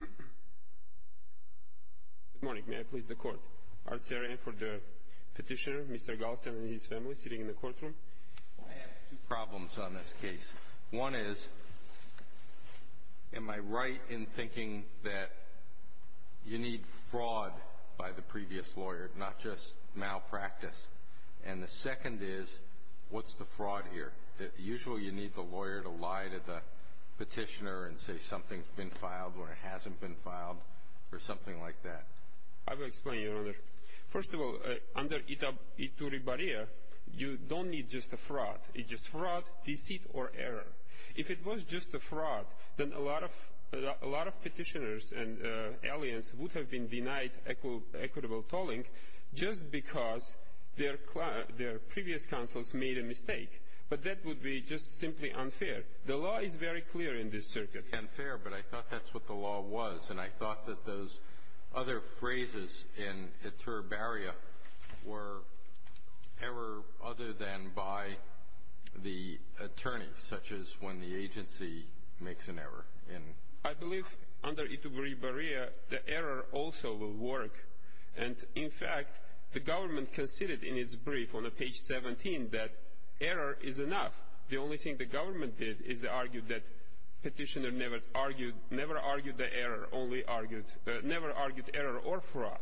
Good morning, may I please the court? Art Sarian for the petitioner, Mr. Galstian and his family, sitting in the courtroom. I have two problems on this case. One is, am I right in thinking that you need fraud by the previous lawyer, not just malpractice? And the second is, what's the fraud here? Usually you need the lawyer to lie to the petitioner and say something's been filed or hasn't been filed, or something like that. I will explain, Your Honor. First of all, under Iturribarria, you don't need just a fraud. It's just fraud, deceit, or error. If it was just a fraud, then a lot of petitioners and aliens would have been denied equitable tolling just because their previous counsels made a mistake. But that would be just simply unfair. The law is very clear in this circuit. Unfair, but I thought that's what the law was. And I thought that those other phrases in Iturribarria were error other than by the attorneys, such as when the agency makes an error. I believe under Iturribarria, the error also will work. And, in fact, the government conceded in its brief on page 17 that error is enough. The only thing the government did is they argued that petitioner never argued error or fraud.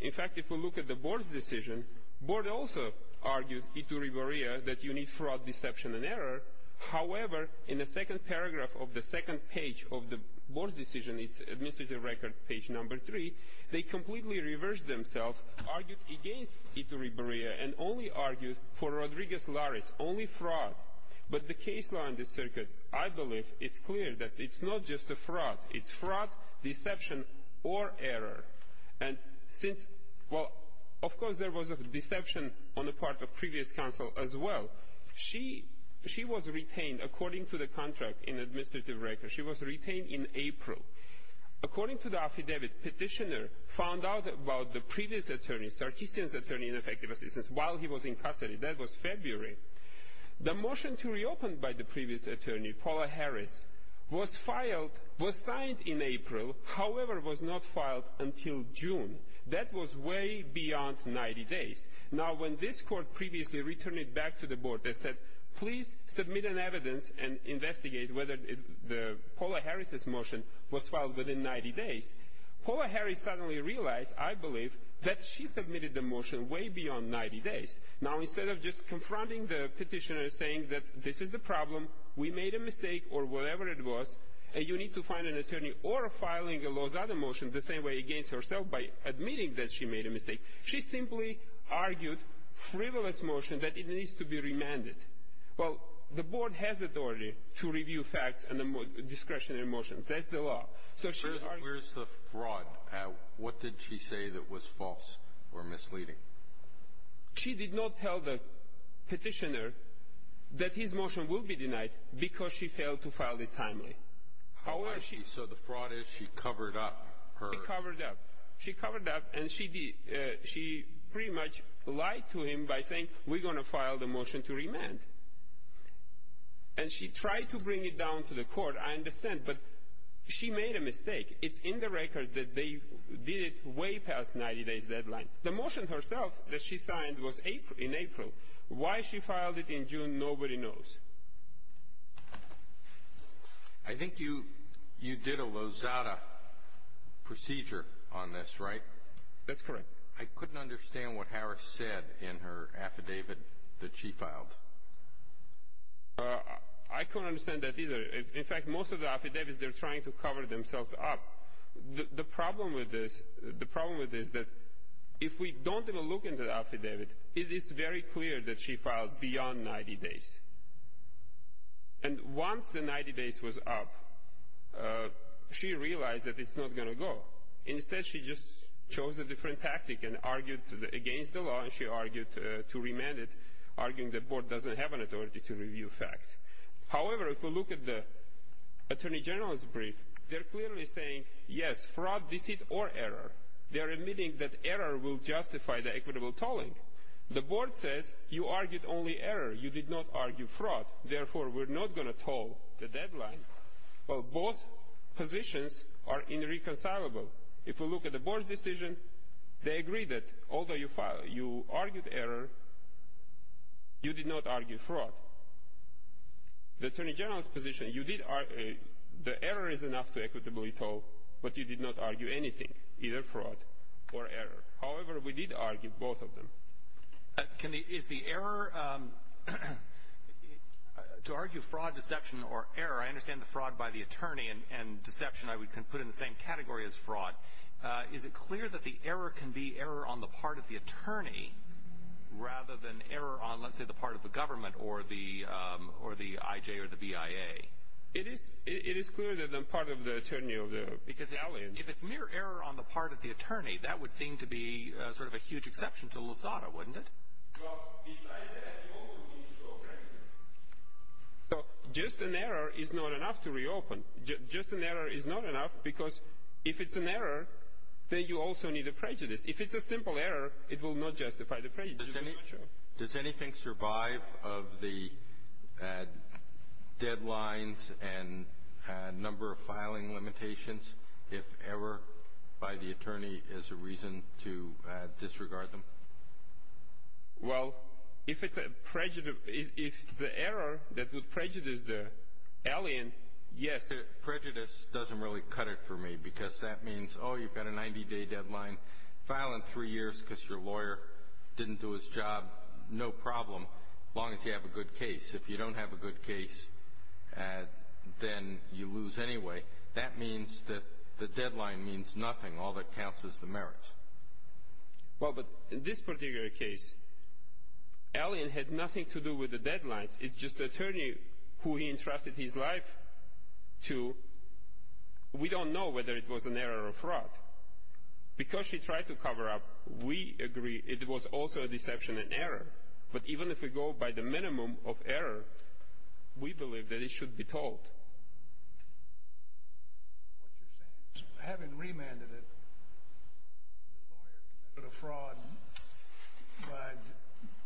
In fact, if we look at the board's decision, board also argued, Iturribarria, that you need fraud, deception, and error. However, in the second paragraph of the second page of the board's decision, its administrative record, page number three, they completely reversed themselves, argued against Iturribarria, and only argued for Rodriguez-Larez, only fraud. But the case law in this circuit, I believe, is clear that it's not just a fraud. It's fraud, deception, or error. And since, well, of course there was a deception on the part of previous counsel as well. She was retained, according to the contract in administrative record, she was retained in April. According to the affidavit, petitioner found out about the previous attorney, Sarkissian's attorney in effective assistance, while he was in custody. That was February. The motion to reopen by the previous attorney, Paula Harris, was filed, was signed in April, however was not filed until June. That was way beyond 90 days. Now, when this court previously returned it back to the board, they said, please submit an evidence and investigate whether Paula Harris' motion was filed within 90 days. Paula Harris suddenly realized, I believe, that she submitted the motion way beyond 90 days. Now, instead of just confronting the petitioner and saying that this is the problem, we made a mistake, or whatever it was, you need to find an attorney or filing a Lozada motion the same way against herself by admitting that she made a mistake. She simply argued frivolous motion that it needs to be remanded. Well, the board has authority to review facts and discretionary motions. That's the law. So she argued — Where's the fraud? What did she say that was false or misleading? She did not tell the petitioner that his motion will be denied because she failed to file it timely. So the fraud is she covered up her — She covered up. She covered up, and she pretty much lied to him by saying, we're going to file the motion to remand. And she tried to bring it down to the court, I understand, but she made a mistake. It's in the record that they did it way past 90 days deadline. The motion herself that she signed was in April. Why she filed it in June, nobody knows. I think you did a Lozada procedure on this, right? That's correct. I couldn't understand what Harris said in her affidavit that she filed. I couldn't understand that either. In fact, most of the affidavits, they're trying to cover themselves up. The problem with this is that if we don't even look into the affidavit, it is very clear that she filed beyond 90 days. And once the 90 days was up, she realized that it's not going to go. Instead, she just chose a different tactic and argued against the law, and she argued to remand it, arguing the board doesn't have an authority to review facts. However, if we look at the attorney general's brief, they're clearly saying, yes, fraud, deceit, or error. They're admitting that error will justify the equitable tolling. The board says you argued only error. You did not argue fraud. Therefore, we're not going to toll the deadline. Well, both positions are irreconcilable. If we look at the board's decision, they agree that although you argued error, you did not argue fraud. The attorney general's position, the error is enough to equitably toll, but you did not argue anything, either fraud or error. However, we did argue both of them. Is the error, to argue fraud, deception, or error, I understand the fraud by the attorney and deception I would put in the same category as fraud. Is it clear that the error can be error on the part of the attorney rather than error on, let's say, the part of the government or the I.J. or the B.I.A.? It is clear that the part of the attorney or the – Because if it's mere error on the part of the attorney, that would seem to be sort of a huge exception to Lusada, wouldn't it? So just an error is not enough to reopen. Just an error is not enough because if it's an error, then you also need a prejudice. If it's a simple error, it will not justify the prejudice. Does anything survive of the deadlines and number of filing limitations if error by the attorney is a reason to disregard them? Well, if it's a prejudice – if it's an error that would prejudice the alien, yes. Prejudice doesn't really cut it for me because that means, oh, you've got a 90-day deadline. File in three years because your lawyer didn't do his job, no problem as long as you have a good case. If you don't have a good case, then you lose anyway. That means that the deadline means nothing. All that counts is the merits. Well, but in this particular case, alien had nothing to do with the deadlines. It's just the attorney who he entrusted his life to. We don't know whether it was an error or fraud. Because she tried to cover up, we agree it was also a deception and error. But even if we go by the minimum of error, we believe that it should be told. What you're saying is having remanded it, the lawyer committed a fraud by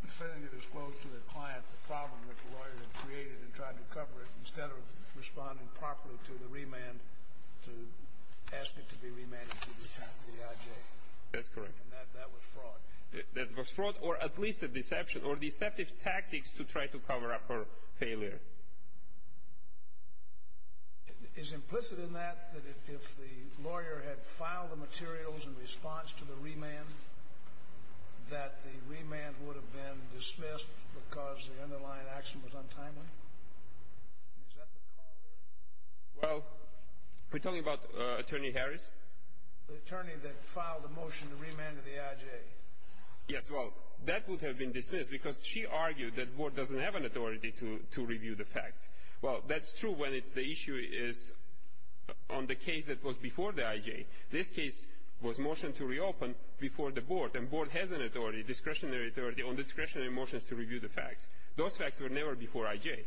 defending it as close to the client, the problem that the lawyer had created, and tried to cover it instead of responding properly to the remand, to ask it to be remanded to the IJ. That's correct. And that was fraud. That was fraud or at least a deception or deceptive tactics to try to cover up her failure. Is implicit in that that if the lawyer had filed the materials in response to the remand, that the remand would have been dismissed because the underlying action was untimely? Is that the call there? Well, we're talking about Attorney Harris? The attorney that filed the motion to remand to the IJ. Yes, well, that would have been dismissed because she argued that the board doesn't have an authority to review the facts. Well, that's true when the issue is on the case that was before the IJ. This case was motioned to reopen before the board, and the board has an authority, discretionary authority on discretionary motions to review the facts. Those facts were never before IJ.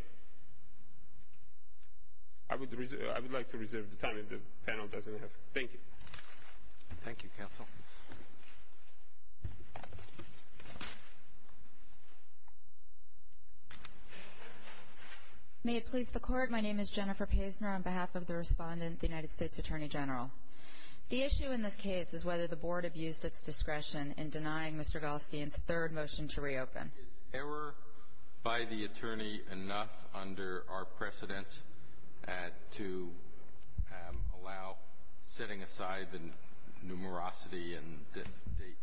I would like to reserve the time if the panel doesn't have it. Thank you. Thank you, counsel. May it please the Court. My name is Jennifer Pazner on behalf of the respondent, the United States Attorney General. The issue in this case is whether the board abused its discretion in denying Mr. Galstein's third motion to reopen. Is error by the attorney enough under our precedents to allow setting aside the numerosity and the date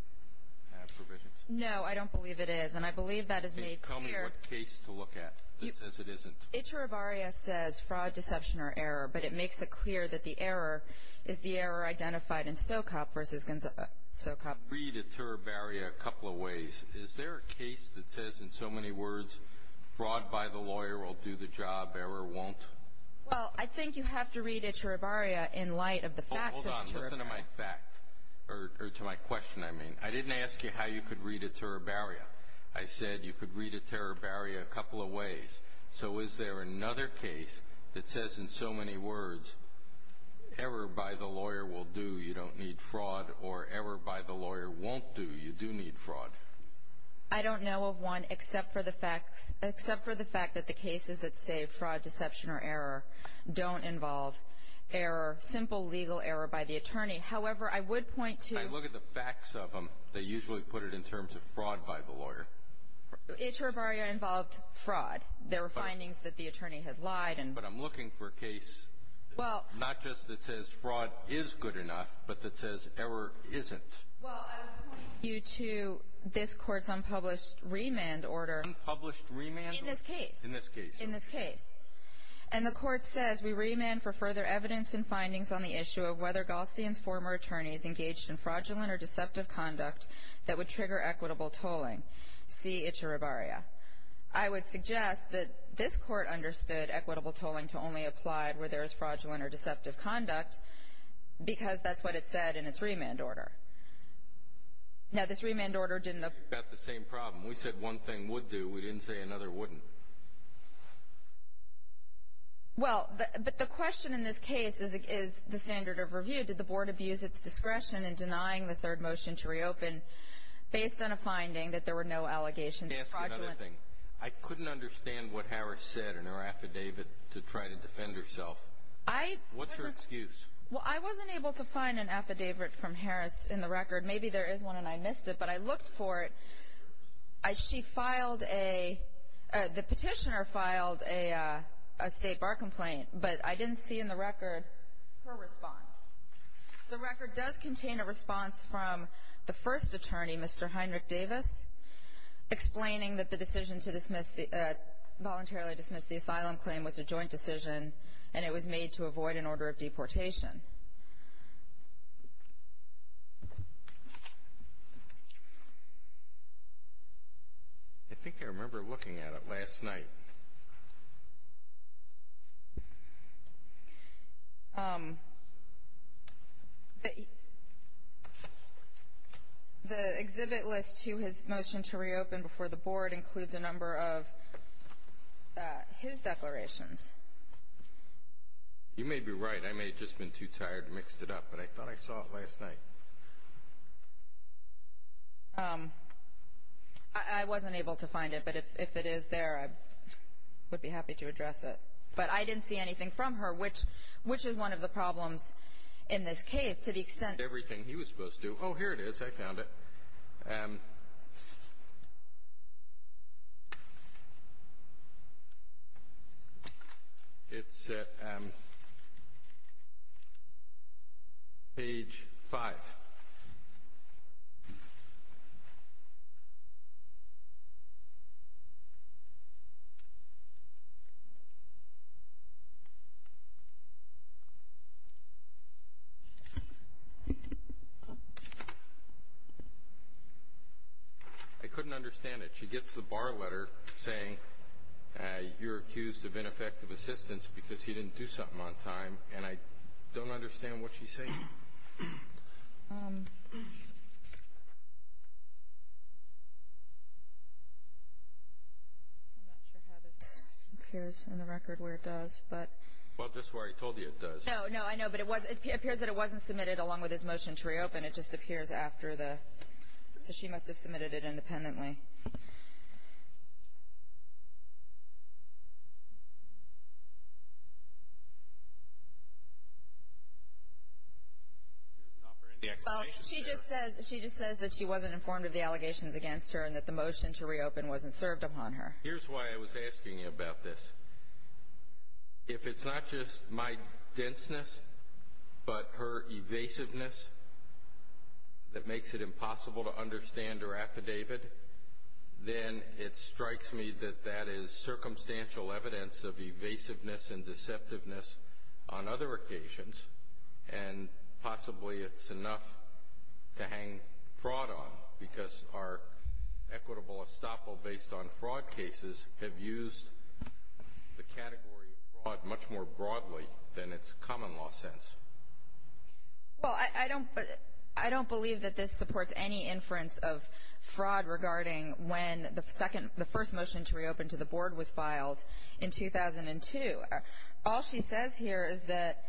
provision? No, I don't believe it is, and I believe that is made clear. Tell me what case to look at that says it isn't. Ituribarria says fraud, deception, or error, but it makes it clear that the error is the error identified in Socop versus Socop. You could read Ituribarria a couple of ways. Is there a case that says in so many words fraud by the lawyer will do the job, error won't? Well, I think you have to read Ituribarria in light of the facts of Ituribarria. Hold on. Listen to my fact, or to my question, I mean. I didn't ask you how you could read Ituribarria. I said you could read Ituribarria a couple of ways. So is there another case that says in so many words error by the lawyer will do, you don't need fraud, or error by the lawyer won't do, you do need fraud? I don't know of one except for the fact that the cases that say fraud, deception, or error don't involve error, simple legal error by the attorney. However, I would point to – I look at the facts of them. They usually put it in terms of fraud by the lawyer. Ituribarria involved fraud. There were findings that the attorney had lied. But I'm looking for a case not just that says fraud is good enough, but that says error isn't. Well, I would point you to this Court's unpublished remand order. Unpublished remand order? In this case. In this case. In this case. And the Court says we remand for further evidence and findings on the issue of whether Galstian's former attorney is engaged in fraudulent or deceptive conduct that would trigger equitable tolling. See Ituribarria. I would suggest that this Court understood equitable tolling to only apply where there is fraudulent or deceptive conduct because that's what it said in its remand order. Now, this remand order didn't – We've got the same problem. We said one thing would do. We didn't say another wouldn't. Well, but the question in this case is the standard of review. Did the Board abuse its discretion in denying the third motion to reopen based on a finding that there were no allegations of fraudulent – Can I ask you another thing? I couldn't understand what Harris said in her affidavit to try to defend herself. I wasn't – What's her excuse? Well, I wasn't able to find an affidavit from Harris in the record. Maybe there is one, and I missed it. But I looked for it. She filed a – the petitioner filed a state bar complaint, but I didn't see in the record her response. The record does contain a response from the first attorney, Mr. Heinrich Davis, explaining that the decision to voluntarily dismiss the asylum claim was a joint decision and it was made to avoid an order of deportation. I think I remember looking at it last night. Okay. The exhibit list to his motion to reopen before the Board includes a number of his declarations. You may be right. I may have just been too tired and mixed it up, but I thought I saw it last night. I wasn't able to find it, but if it is there, I would be happy to address it. But I didn't see anything from her, which is one of the problems in this case to the extent – Everything he was supposed to – oh, here it is. I found it. And it's at page 5. I couldn't understand it. She gets the bar letter saying you're accused of ineffective assistance because he didn't do something on time, and I don't understand what she's saying. I'm not sure how this appears in the record where it does, but – Well, that's why I told you it does. No, no, I know. But it was – it appears that it wasn't submitted along with his motion to reopen. It just appears after the – so she must have submitted it independently. She just says that she wasn't informed of the allegations against her and that the motion to reopen wasn't served upon her. Here's why I was asking you about this. If it's not just my denseness but her evasiveness that makes it impossible to understand her affidavit, then it strikes me that that is circumstantial evidence of evasiveness and deceptiveness on other occasions, and possibly it's enough to hang fraud on because our equitable estoppel based on fraud cases have used the category of fraud much more broadly than its common law sense. Well, I don't believe that this supports any inference of fraud regarding when the first motion to reopen to the board was filed in 2002. All she says here is that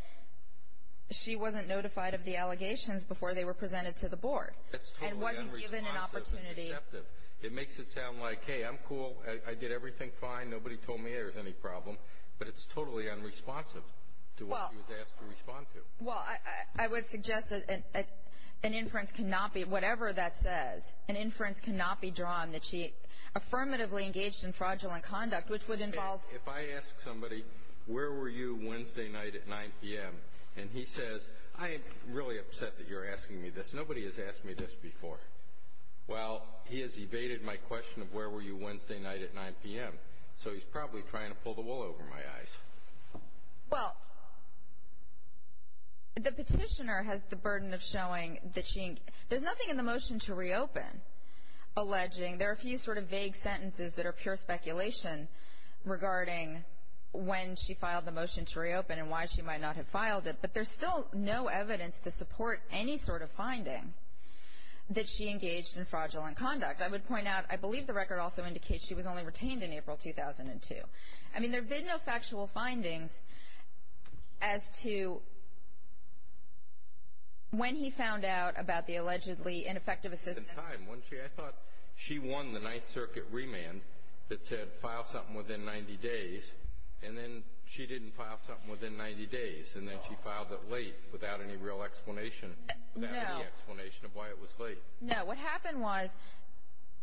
she wasn't notified of the allegations before they were presented to the board. That's totally unresponsive and deceptive. It makes it sound like, hey, I'm cool. I did everything fine. Nobody told me there was any problem. But it's totally unresponsive to what she was asked to respond to. Well, I would suggest that an inference cannot be – whatever that says, an inference cannot be drawn that she affirmatively engaged in fraudulent conduct, which would involve – If I ask somebody, where were you Wednesday night at 9 p.m., and he says, I am really upset that you're asking me this. Nobody has asked me this before. Well, he has evaded my question of where were you Wednesday night at 9 p.m., so he's probably trying to pull the wool over my eyes. Well, the petitioner has the burden of showing that she – there's nothing in the motion to reopen alleging – there are a few sort of vague sentences that are pure speculation regarding when she filed the motion to reopen and why she might not have filed it, but there's still no evidence to support any sort of finding that she engaged in fraudulent conduct. I would point out, I believe the record also indicates she was only retained in April 2002. I mean, there have been no factual findings as to when he found out about the allegedly ineffective assistance. At the time, I thought she won the Ninth Circuit remand that said file something within 90 days, and then she didn't file something within 90 days, and then she filed it late without any real explanation, without any explanation of why it was late. No. What happened was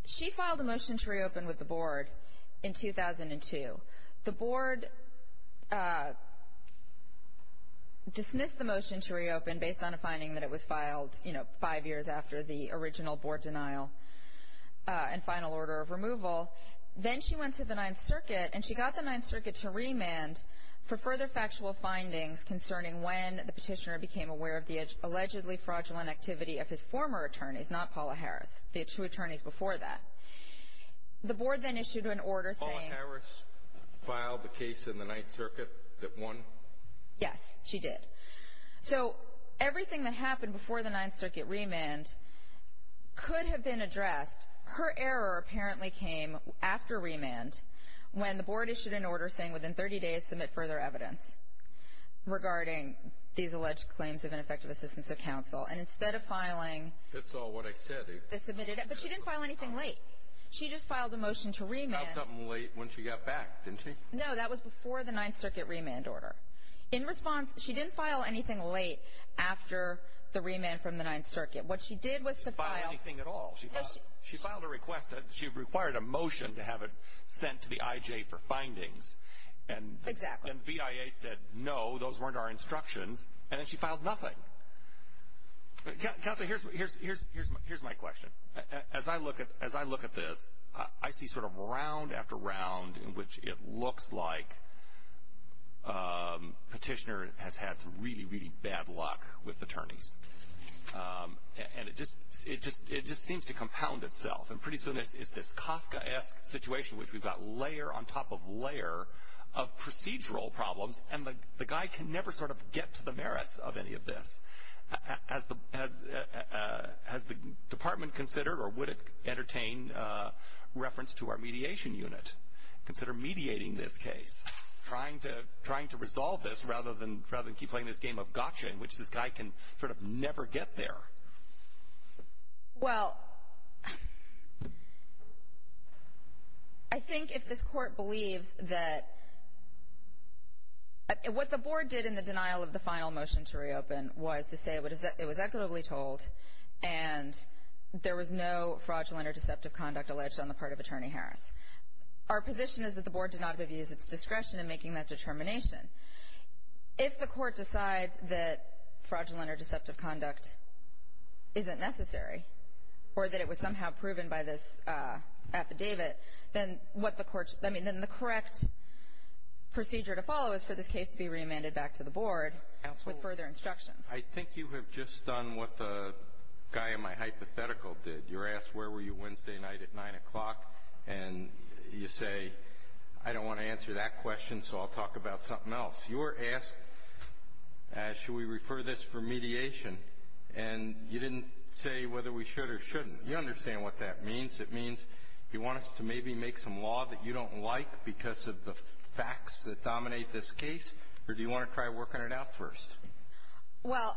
she filed a motion to reopen with the board in 2002. The board dismissed the motion to reopen based on a finding that it was filed, you know, five years after the original board denial and final order of removal. Then she went to the Ninth Circuit, and she got the Ninth Circuit to remand for further factual findings concerning when the petitioner became aware of the allegedly fraudulent activity of his former attorneys, not Paula Harris, the two attorneys before that. The board then issued an order saying— Paula Harris filed the case in the Ninth Circuit that won? Yes, she did. So everything that happened before the Ninth Circuit remand could have been addressed. Her error apparently came after remand when the board issued an order saying within 30 days submit further evidence regarding these alleged claims of ineffective assistance of counsel, and instead of filing— That's all what I said. But she didn't file anything late. She just filed a motion to remand. She filed something late when she got back, didn't she? No, that was before the Ninth Circuit remand order. In response, she didn't file anything late after the remand from the Ninth Circuit. What she did was to file— She didn't file anything at all. She filed a request. She required a motion to have it sent to the IJ for findings. Exactly. And the BIA said no, those weren't our instructions, and then she filed nothing. Counsel, here's my question. As I look at this, I see sort of round after round in which it looks like petitioner has had some really, really bad luck with attorneys. And it just seems to compound itself. And pretty soon it's this Kafkaesque situation, which we've got layer on top of layer of procedural problems, and the guy can never sort of get to the merits of any of this. Has the department considered or would it entertain reference to our mediation unit? Consider mediating this case, trying to resolve this rather than keep playing this game of gotcha in which this guy can sort of never get there. Well, I think if this Court believes that what the Board did in the denial of the final motion to reopen was to say it was equitably told and there was no fraudulent or deceptive conduct alleged on the part of Attorney Harris. Our position is that the Board did not abuse its discretion in making that determination. If the Court decides that fraudulent or deceptive conduct isn't necessary or that it was somehow proven by this affidavit, then what the Court's – I mean, then the correct procedure to follow is for this case to be reamended back to the Board with further instructions. Absolutely. I think you have just done what the guy in my hypothetical did. You're asked where were you Wednesday night at 9 o'clock, and you say, I don't want to answer that question, so I'll talk about something else. You were asked should we refer this for mediation, and you didn't say whether we should or shouldn't. You understand what that means. It means you want us to maybe make some law that you don't like because of the facts that dominate this case, or do you want to try working it out first? Well,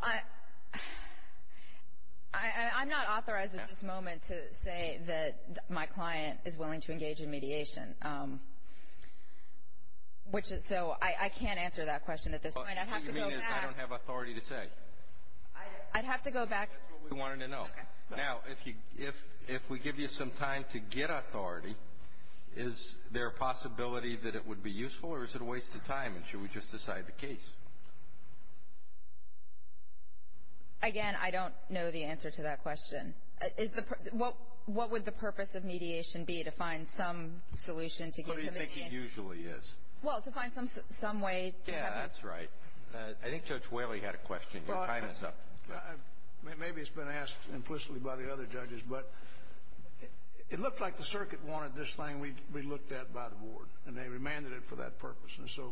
I'm not authorized at this moment to say that my client is willing to engage in mediation. So I can't answer that question at this point. What you mean is I don't have authority to say? I'd have to go back. That's what we wanted to know. Now, if we give you some time to get authority, is there a possibility that it would be useful, or is it a waste of time, and should we just decide the case? Again, I don't know the answer to that question. What would the purpose of mediation be to find some solution to give him a hand? What do you think it usually is? Well, to find some way to have him. Yeah, that's right. I think Judge Whaley had a question. Your time is up. Maybe it's been asked implicitly by the other judges, but it looked like the circuit wanted this thing we looked at by the board, and they remanded it for that purpose. And so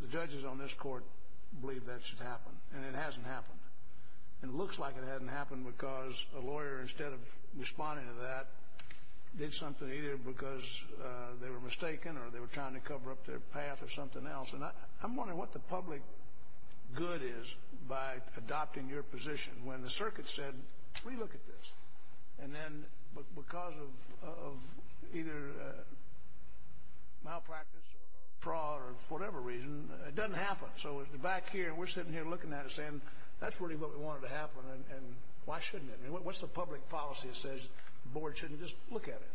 the judges on this court believe that should happen, and it hasn't happened. And it looks like it hasn't happened because a lawyer, instead of responding to that, did something either because they were mistaken or they were trying to cover up their path or something else. And I'm wondering what the public good is by adopting your position when the circuit said, Let me look at this. And then because of either malpractice or fraud or whatever reason, it doesn't happen. So back here, we're sitting here looking at it and saying, That's really what we wanted to happen, and why shouldn't it? What's the public policy that says the board shouldn't just look at it?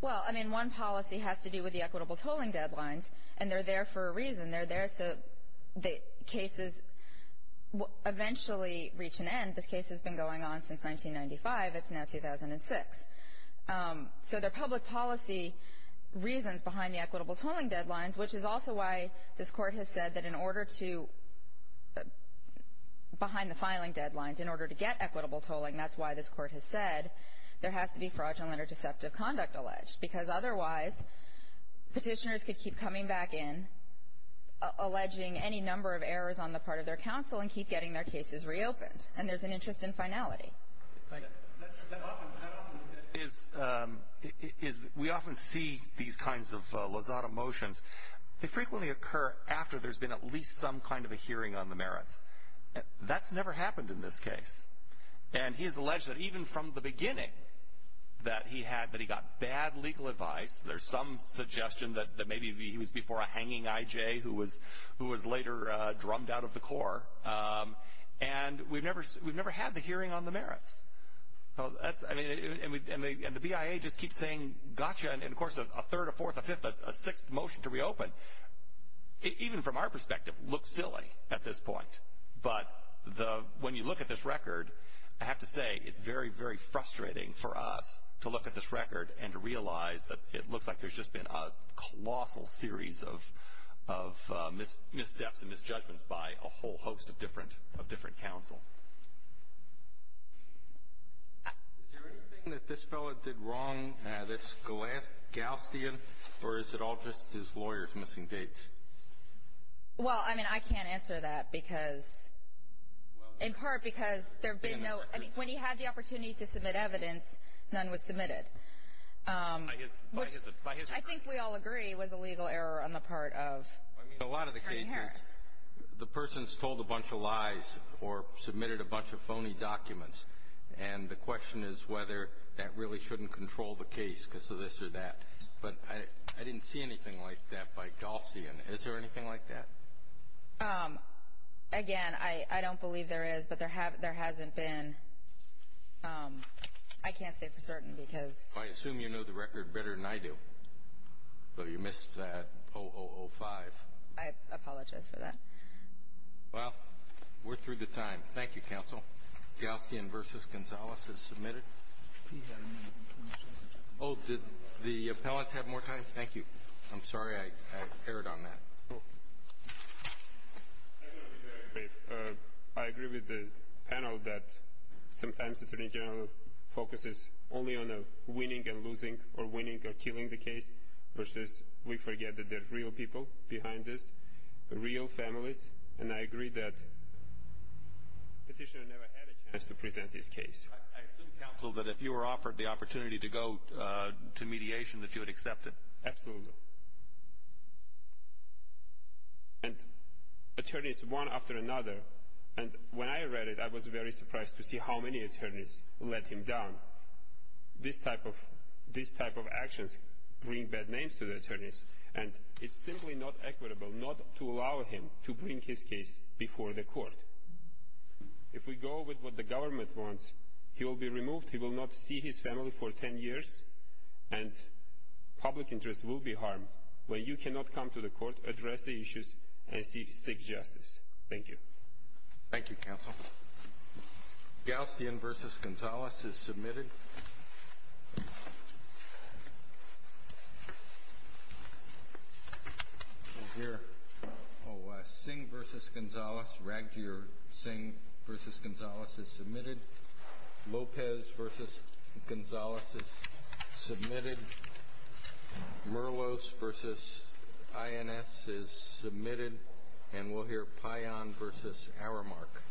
Well, I mean, one policy has to do with the equitable tolling deadlines, and they're there for a reason. They're there so that cases eventually reach an end. This case has been going on since 1995. It's now 2006. So there are public policy reasons behind the equitable tolling deadlines, which is also why this Court has said that in order to behind the filing deadlines, in order to get equitable tolling, that's why this Court has said there has to be fraudulent or deceptive conduct alleged, because otherwise petitioners could keep coming back in, alleging any number of errors on the part of their counsel and keep getting their cases reopened. And there's an interest in finality. That often happens. We often see these kinds of lazada motions. They frequently occur after there's been at least some kind of a hearing on the merits. That's never happened in this case. And he has alleged that even from the beginning that he got bad legal advice. There's some suggestion that maybe he was before a hanging I.J. who was later drummed out of the Corps. And we've never had the hearing on the merits. And the BIA just keeps saying, gotcha. And, of course, a third, a fourth, a fifth, a sixth motion to reopen, even from our perspective, looks silly at this point. But when you look at this record, I have to say it's very, very frustrating for us to look at this record and to realize that it looks like there's just been a colossal series of missteps and misjudgments by a whole host of different counsel. Is there anything that this fellow did wrong that's Gaussian, or is it all just his lawyer's missing dates? Well, I mean, I can't answer that because, in part, because there have been no – I mean, when he had the opportunity to submit evidence, none was submitted. Which I think we all agree was a legal error on the part of Attorney Harris. I mean, a lot of the cases, the person's told a bunch of lies or submitted a bunch of phony documents, and the question is whether that really shouldn't control the case because of this or that. But I didn't see anything like that by Gaussian. Is there anything like that? Again, I don't believe there is, but there hasn't been. I can't say for certain because – So you missed that 0005. I apologize for that. Well, we're through the time. Thank you, counsel. Gaussian v. Gonzales is submitted. Do you have any information? Oh, did the appellant have more time? Thank you. I'm sorry I erred on that. I agree with the panel that sometimes the attorney general focuses only on winning and losing or winning or killing the case versus we forget that there are real people behind this, real families, and I agree that the petitioner never had a chance to present his case. I assume, counsel, that if you were offered the opportunity to go to mediation, that you would accept it. Absolutely. And attorneys, one after another, and when I read it, I was very surprised to see how many attorneys let him down. This type of actions bring bad names to the attorneys, and it's simply not equitable not to allow him to bring his case before the court. If we go with what the government wants, he will be removed, he will not see his family for 10 years, and public interest will be harmed when you cannot come to the court, address the issues, and seek justice. Thank you. Thank you, counsel. Gaustian v. Gonzales is submitted. We'll hear Singh v. Gonzales. Raghjir Singh v. Gonzales is submitted. Lopez v. Gonzales is submitted. Merlos v. INS is submitted. And we'll hear Payan v. Aramark.